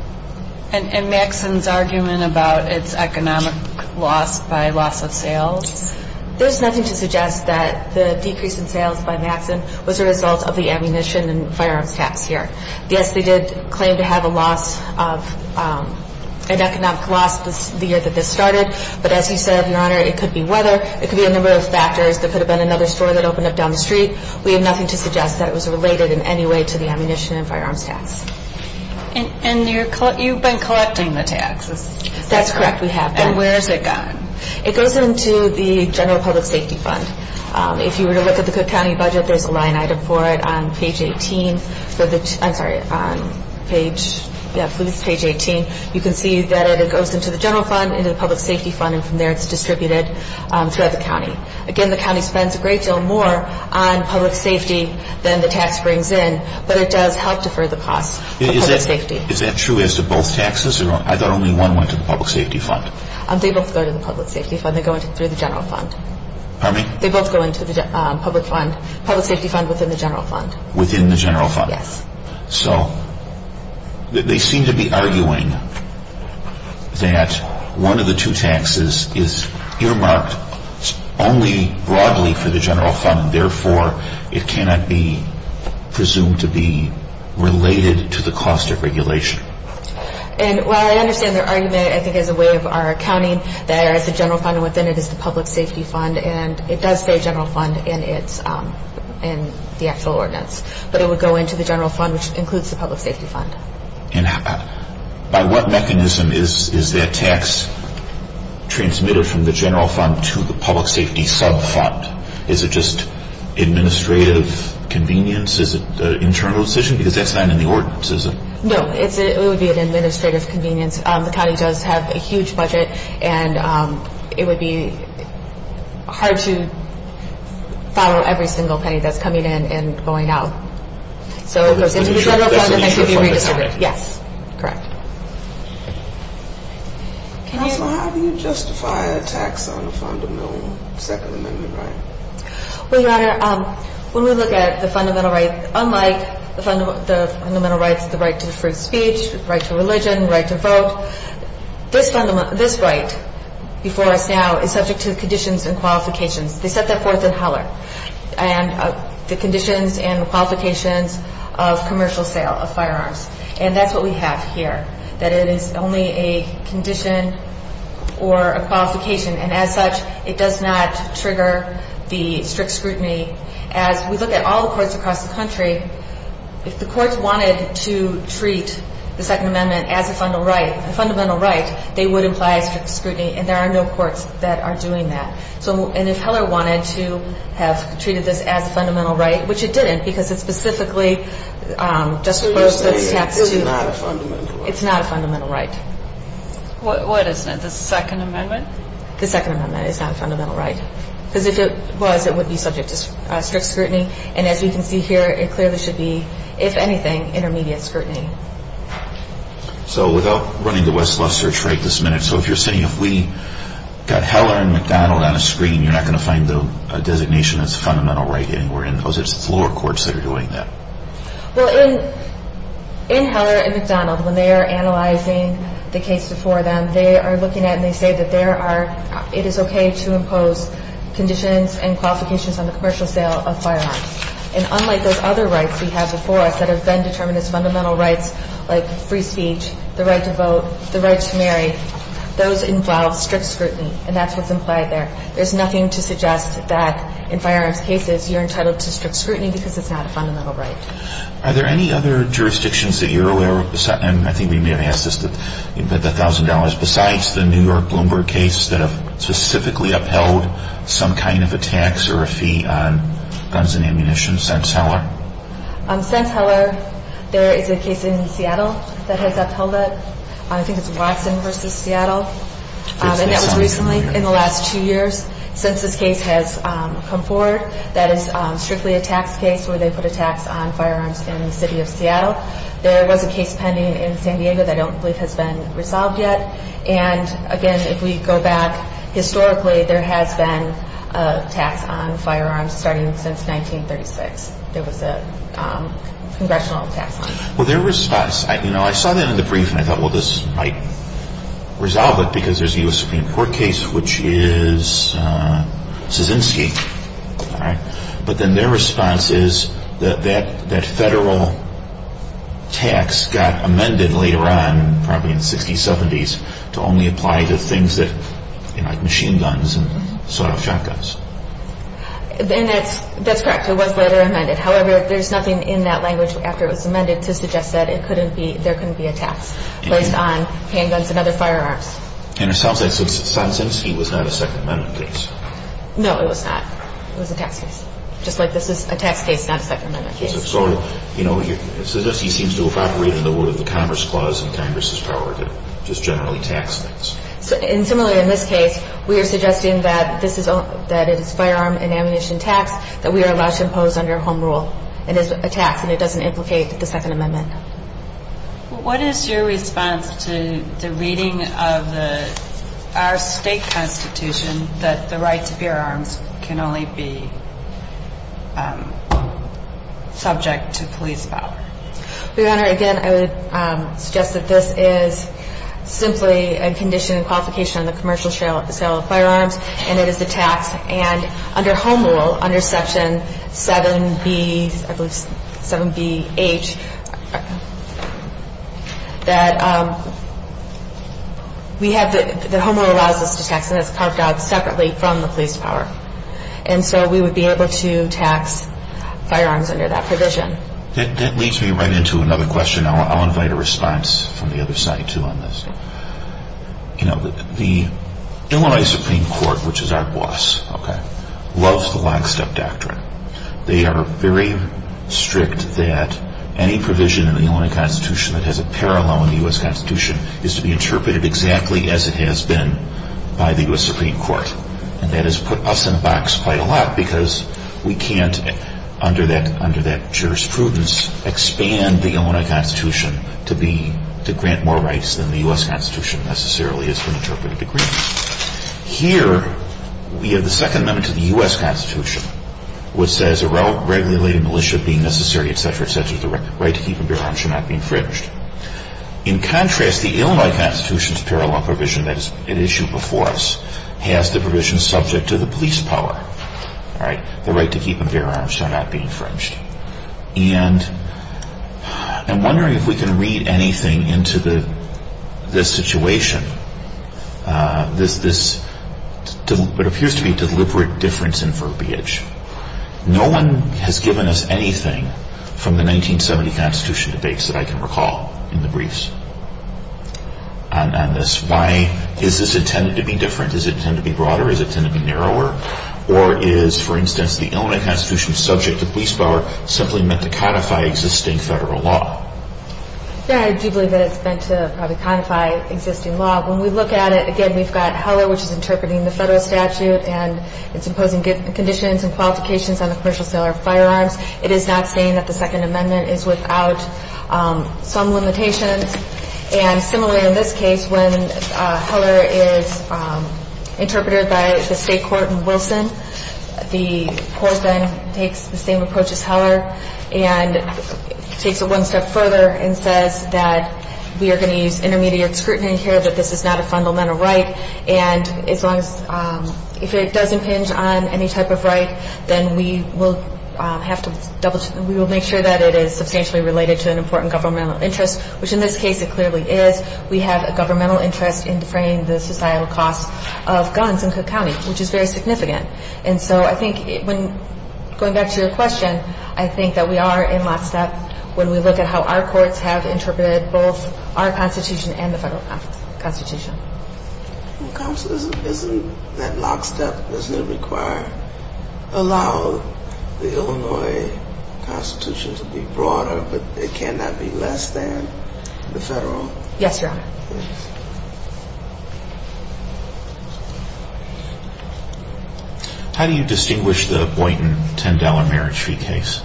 And Maxson's argument about its economic loss by loss of sales? There is nothing to suggest that the decrease in sales by Maxson was a result of the ammunition and firearms tax here. Yes, they did claim to have an economic loss the year that this started, but as you said, Your Honor, it could be weather. It could be a number of factors. There could have been another store that opened up down the street. We have nothing to suggest that it was related in any way to the ammunition and firearms tax. And you've been collecting the taxes? That's correct. We have been. And where has it gone? It goes into the general public safety fund. If you were to look at the Cook County budget, there's a line item for it on page 18. I'm sorry, page 18. You can see that it goes into the general fund, into the public safety fund, and from there it's distributed throughout the county. Again, the county spends a great deal more on public safety than the tax brings in, but it does help defer the costs of public safety. Is that true as to both taxes? I thought only one went to the public safety fund. They both go to the public safety fund. They go through the general fund. Pardon me? They both go into the public safety fund within the general fund. Within the general fund. Yes. So they seem to be arguing that one of the two taxes is earmarked only broadly for the general fund, therefore it cannot be presumed to be related to the cost of regulation. And while I understand their argument, I think as a way of our accounting, that the general fund within it is the public safety fund, and it does say general fund in the actual ordinance, but it would go into the general fund, which includes the public safety fund. And by what mechanism is that tax transmitted from the general fund to the public safety sub-fund? Is it just administrative convenience? Is it an internal decision? Because that's not in the ordinance, is it? No, it would be an administrative convenience. The county does have a huge budget, and it would be hard to follow every single penny that's coming in and going out. So it goes into the general fund and then can be redistributed. Yes, correct. Counselor, how do you justify a tax on a fundamental Second Amendment right? Well, Your Honor, when we look at the fundamental right, unlike the fundamental rights, the right to free speech, right to religion, right to vote, this right before us now is subject to conditions and qualifications. They set that forth in Heller, and the conditions and qualifications of commercial sale of firearms. And that's what we have here, that it is only a condition or a qualification, and as such, it does not trigger the strict scrutiny. As we look at all the courts across the country, if the courts wanted to treat the Second Amendment as a fundamental right, they would imply a strict scrutiny, and there are no courts that are doing that. And if Heller wanted to have treated this as a fundamental right, which it didn't, because it's specifically just for those that it's taxed to. So you're saying it's not a fundamental right? It's not a fundamental right. What is it, the Second Amendment? The Second Amendment is not a fundamental right. Because if it was, it would be subject to strict scrutiny, and as we can see here, it clearly should be, if anything, intermediate scrutiny. So without running the west-west search right this minute, so if you're saying if we got Heller and McDonald on a screen, you're not going to find a designation that's a fundamental right anywhere in those? It's the lower courts that are doing that. Well, in Heller and McDonald, when they are analyzing the case before them, they are looking at it and they say that it is okay to impose conditions and qualifications on the commercial sale of firearms. And unlike those other rights we have before us that have been determined as fundamental rights, like free speech, the right to vote, the right to marry, those involve strict scrutiny, and that's what's implied there. There's nothing to suggest that in firearms cases, you're entitled to strict scrutiny because it's not a fundamental right. Are there any other jurisdictions that you're aware of? I think we may have asked this, but the $1,000, besides the New York Bloomberg case that have specifically upheld some kind of a tax or a fee on guns and ammunition since Heller? Since Heller, there is a case in Seattle that has upheld it. I think it's Watson v. Seattle, and that was recently in the last two years. Since this case has come forward, that is strictly a tax case where they put a tax on firearms in the city of Seattle. There was a case pending in San Diego that I don't believe has been resolved yet. And, again, if we go back historically, there has been a tax on firearms starting since 1936. There was a congressional tax on it. Well, their response, you know, I saw that in the brief, and I thought, well, this might resolve it because there's a U.S. Supreme Court case, which is Kaczynski. But then their response is that that federal tax got amended later on, probably in the 60s, 70s, to only apply to things like machine guns and sawed-off shotguns. That's correct. It was later amended. However, there's nothing in that language after it was amended to suggest that there couldn't be a tax based on handguns and other firearms. And it sounds like Kaczynski was not a Second Amendment case. No, it was not. It was a tax case. Just like this is a tax case, not a Second Amendment case. So, you know, it suggests he seems to have operated in the wood of the Commerce Clause and Congress's power to just generally tax things. And, similarly, in this case, we are suggesting that it is firearm and ammunition tax that we are allowed to impose under home rule. It is a tax, and it doesn't implicate the Second Amendment. What is your response to the reading of our state constitution that the right to firearms can only be subject to police power? Your Honor, again, I would suggest that this is simply a condition and qualification on the commercial sale of firearms, and it is a tax. And under home rule, under Section 7B, I believe 7B-H, that we have the home rule allows us to tax, and it's carved out separately from the police power. And so we would be able to tax firearms under that provision. That leads me right into another question. I'll invite a response from the other side, too, on this. The Illinois Supreme Court, which is our boss, loves the lockstep doctrine. They are very strict that any provision in the Illinois Constitution that has a parallel in the U.S. Constitution is to be interpreted exactly as it has been by the U.S. Supreme Court. And that has put us in a box quite a lot because we can't, under that jurisprudence, expand the Illinois Constitution to grant more rights than the U.S. Constitution necessarily has been interpreted to grant. Here, we have the Second Amendment to the U.S. Constitution, which says a regulated militia being necessary, etc., etc., the right to keep and bear arms shall not be infringed. In contrast, the Illinois Constitution's parallel provision that is at issue before us has the provision subject to the police power, the right to keep and bear arms shall not be infringed. And I'm wondering if we can read anything into this situation, this what appears to be deliberate difference in verbiage. No one has given us anything from the 1970 Constitution debates that I can recall in the briefs on this. Why is this intended to be different? Does it tend to be broader? Does it tend to be narrower? Or is, for instance, the Illinois Constitution subject to police power simply meant to codify existing federal law? Yeah, I do believe that it's meant to probably codify existing law. When we look at it, again, we've got Heller, which is interpreting the federal statute and its imposing conditions and qualifications on the commercial sale of firearms. It is not saying that the Second Amendment is without some limitations. And similarly in this case, when Heller is interpreted by the state court in Wilson, the court then takes the same approach as Heller and takes it one step further and says that we are going to use intermediate scrutiny here, that this is not a fundamental right, and if it does impinge on any type of right, then we will make sure that it is substantially related to an important governmental interest, which in this case it clearly is. We have a governmental interest in defraying the societal costs of guns in Cook County, which is very significant. And so I think, going back to your question, I think that we are in lockstep when we look at how our courts have interpreted both our Constitution and the federal Constitution. Counsel, isn't that lockstep? Doesn't it allow the Illinois Constitution to be broader, but it cannot be less than the federal? Yes, Your Honor. How do you distinguish the Boynton $10 marriage fee case?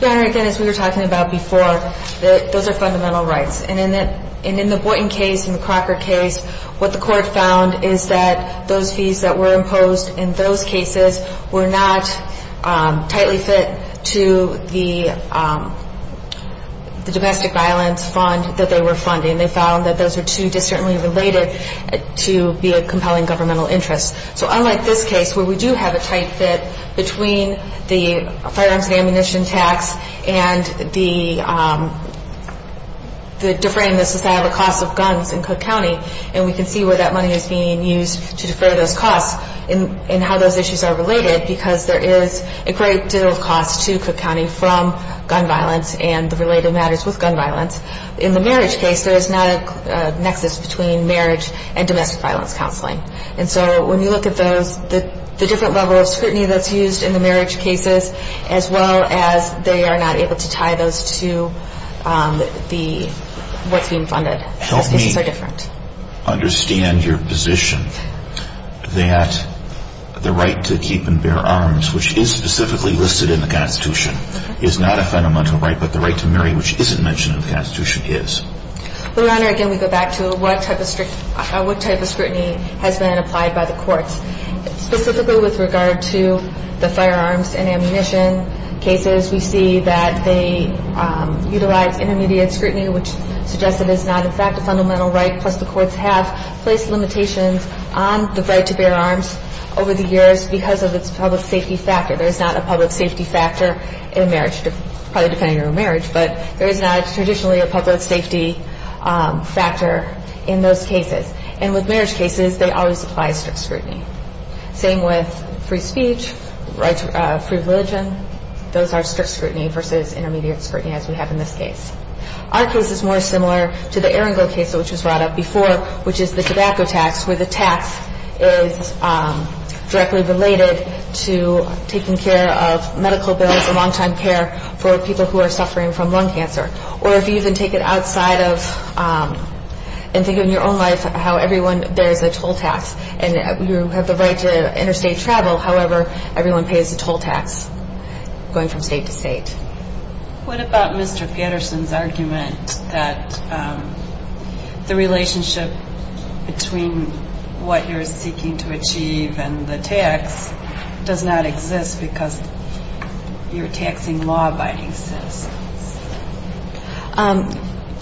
Your Honor, again, as we were talking about before, those are fundamental rights. And in the Boynton case and the Crocker case, what the court found is that those fees that were imposed in those cases were not tightly fit to the domestic violence fund that they were funding. They found that those were too discerningly related to be a compelling governmental interest. So unlike this case, where we do have a tight fit between the firearms and ammunition tax and the deferring the societal costs of guns in Cook County, and we can see where that money is being used to defer those costs and how those issues are related, because there is a great deal of cost to Cook County from gun violence and the related matters with gun violence. In the marriage case, there is not a nexus between marriage and domestic violence counseling. And so when you look at the different levels of scrutiny that's used in the marriage cases, as well as they are not able to tie those to what's being funded, those cases are different. Help me understand your position that the right to keep and bear arms, which is specifically listed in the Constitution, is not a fundamental right, but the right to marry, which isn't mentioned in the Constitution, is. Your Honor, again, we go back to what type of scrutiny has been applied by the courts. Specifically with regard to the firearms and ammunition cases, we see that they utilize intermediate scrutiny, which suggests it is not in fact a fundamental right, plus the courts have placed limitations on the right to bear arms over the years because of its public safety factor. There is not a public safety factor in marriage, probably depending on your marriage, but there is not traditionally a public safety factor in those cases. And with marriage cases, they always apply strict scrutiny. Same with free speech, right to free religion. Those are strict scrutiny versus intermediate scrutiny, as we have in this case. Our case is more similar to the Erringill case, which was brought up before, which is the tobacco tax, where the tax is directly related to taking care of medical bills and long-time care for people who are suffering from lung cancer. Or if you even take it outside of and think in your own life how everyone bears a toll tax and you have the right to interstate travel, however, everyone pays a toll tax going from state to state. What about Mr. Pedersen's argument that the relationship between what you're seeking to achieve and the tax does not exist because you're taxing law-abiding citizens?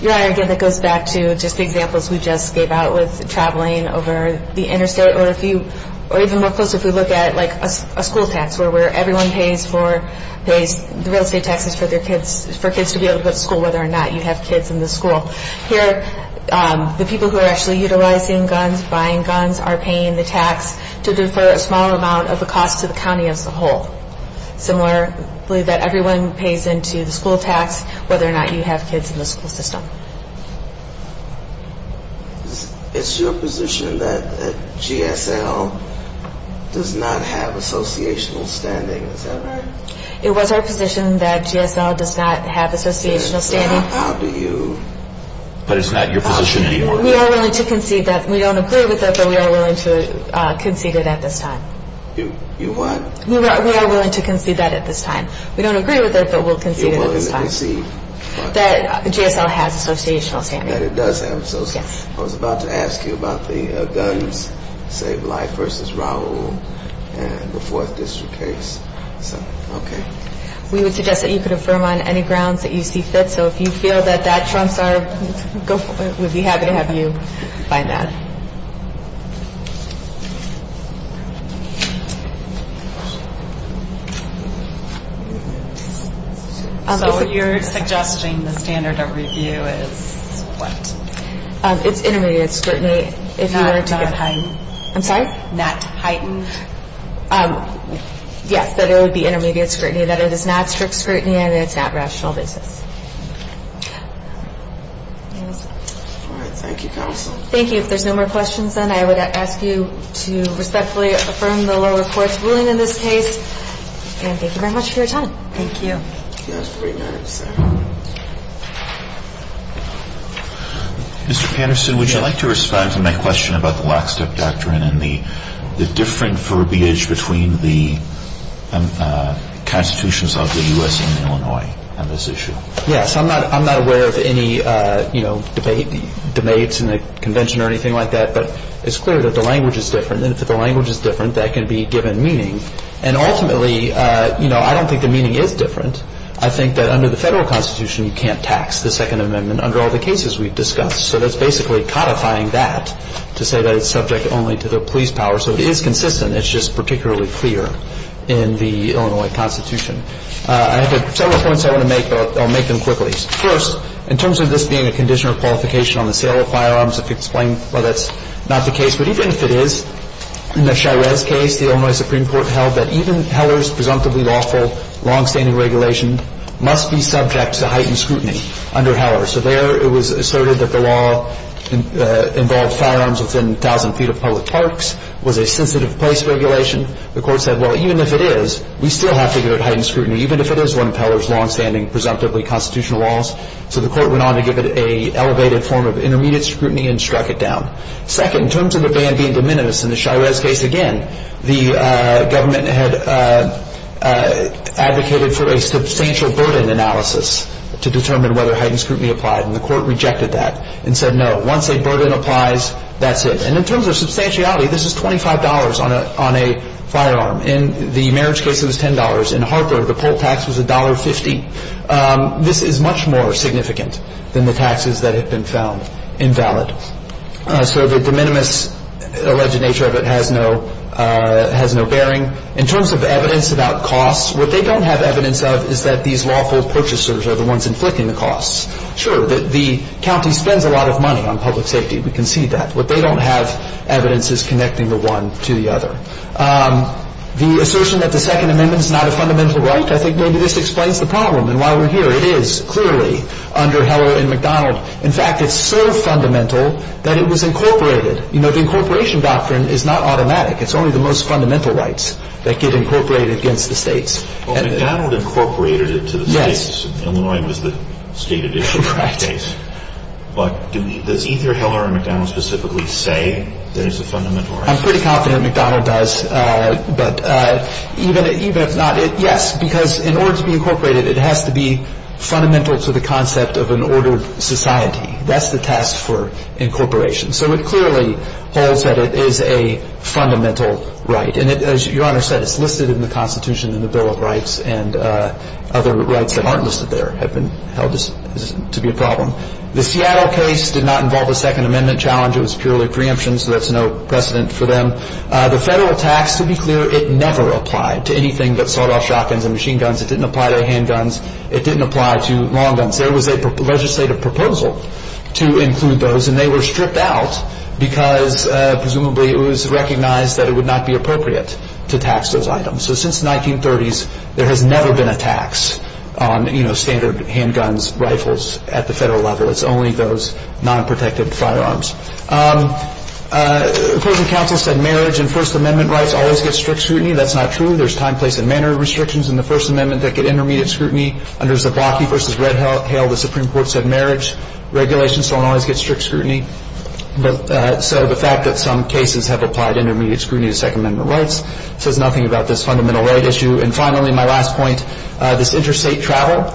Your Honor, again, that goes back to just the examples we just gave out with traveling over the interstate. Or even more closely, if we look at, like, a school tax, where everyone pays the real estate taxes for kids to be able to go to school, whether or not you have kids in the school. Here, the people who are actually utilizing guns, buying guns, are paying the tax to defer a small amount of the cost to the county as a whole. Similarly, that everyone pays into the school tax whether or not you have kids in the school system. Is your position that GSL does not have associational standing? Is that right? It was our position that GSL does not have associational standing. But it's not your position anymore? We are willing to concede that. We don't agree with it, but we are willing to concede it at this time. You what? We are willing to concede that at this time. We don't agree with it, but we'll concede it at this time. You're willing to concede? That GSL has associational standing. That it does have associational. Yes. I was about to ask you about the Guns Save Lives v. Raul and the Fourth District case. We would suggest that you could affirm on any grounds that you see fit. So if you feel that that trumps our goal, we'd be happy to have you find that. So you're suggesting the standard of review is what? It's intermediate scrutiny. Not heightened? I'm sorry? Not heightened? Yes, that it would be intermediate scrutiny. That it is not strict scrutiny and it's not rational business. All right. Thank you, counsel. Thank you. If there's no more questions, then I would ask you to respectfully affirm the lower court's ruling in this case. And thank you very much for your time. Thank you. That was pretty nice. Mr. Patterson, would you like to respond to my question about the lockstep doctrine and the different verbiage between the constitutions of the U.S. and Illinois on this issue? Yes. I'm not aware of any, you know, debates in the convention or anything like that. But it's clear that the language is different. And if the language is different, that can be given meaning. And ultimately, you know, I don't think the meaning is different. I think that under the Federal Constitution, you can't tax the Second Amendment under all the cases we've discussed. So that's basically codifying that to say that it's subject only to the police power. So it is consistent. It's just particularly clear in the Illinois Constitution. I have several points I want to make, but I'll make them quickly. First, in terms of this being a condition or qualification on the sale of firearms, if you explain why that's not the case. But even if it is, in the Shires case, the Illinois Supreme Court held that even Heller's presumptively lawful longstanding regulation must be subject to heightened scrutiny under Heller. So there it was asserted that the law involved firearms within 1,000 feet of public parks, was a sensitive place regulation. The Court said, well, even if it is, we still have to give it heightened scrutiny, even if it is one of Heller's longstanding presumptively constitutional laws. So the Court went on to give it an elevated form of intermediate scrutiny and struck it down. Second, in terms of the ban being de minimis in the Shires case, again, the government had advocated for a substantial burden analysis to determine whether heightened scrutiny applied. And the Court rejected that and said, no, once a burden applies, that's it. And in terms of substantiality, this is $25 on a firearm. In the marriage case, it was $10. In Harper, the poll tax was $1.50. This is much more significant than the taxes that had been found invalid. So the de minimis alleged nature of it has no bearing. In terms of evidence about costs, what they don't have evidence of is that these lawful purchasers are the ones inflicting the costs. Sure, the county spends a lot of money on public safety. We can see that. What they don't have evidence is connecting the one to the other. The assertion that the Second Amendment is not a fundamental right, I think maybe this explains the problem and why we're here. It is, clearly, under Heller and McDonald. In fact, it's so fundamental that it was incorporated. You know, the incorporation doctrine is not automatic. It's only the most fundamental rights that get incorporated against the states. Well, McDonald incorporated it to the states. Yes. Illinois was the stated issue in that case. Right. But does either Heller or McDonald specifically say there's a fundamental right? I'm pretty confident McDonald does. But even if not, yes, because in order to be incorporated, it has to be fundamental to the concept of an ordered society. That's the task for incorporation. So it clearly holds that it is a fundamental right. And as Your Honor said, it's listed in the Constitution and the Bill of Rights, and other rights that aren't listed there have been held to be a problem. The Seattle case did not involve a Second Amendment challenge. It was purely preemption, so that's no precedent for them. The federal tax, to be clear, it never applied to anything but sawed-off shotguns and machine guns. It didn't apply to handguns. It didn't apply to long guns. There was a legislative proposal to include those, and they were stripped out because presumably it was recognized that it would not be appropriate to tax those items. So since the 1930s, there has never been a tax on, you know, standard handguns, rifles at the federal level. It's only those non-protective firearms. The Court of Counsel said marriage and First Amendment rights always get strict scrutiny. That's not true. There's time, place, and manner restrictions in the First Amendment that get intermediate scrutiny. Under Zablocki v. Red Hail, the Supreme Court said marriage regulations don't always get strict scrutiny. So the fact that some cases have applied intermediate scrutiny to Second Amendment rights says nothing about this fundamental right issue. And finally, my last point, this interstate travel.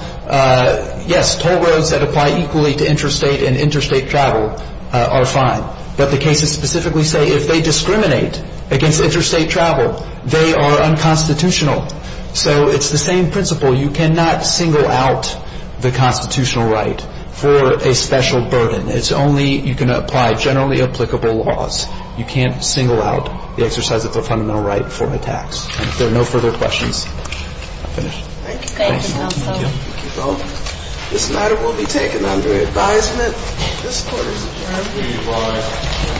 Yes, toll roads that apply equally to interstate and interstate travel are fine, but the cases specifically say if they discriminate against interstate travel, they are unconstitutional. So it's the same principle. You cannot single out the constitutional right for a special burden. It's only you can apply generally applicable laws. You can't single out the exercise of the fundamental right for a tax. If there are no further questions, I'll finish. Thank you. Thank you. Thank you both. This matter will be taken under advisement. This court is adjourned. Please rise.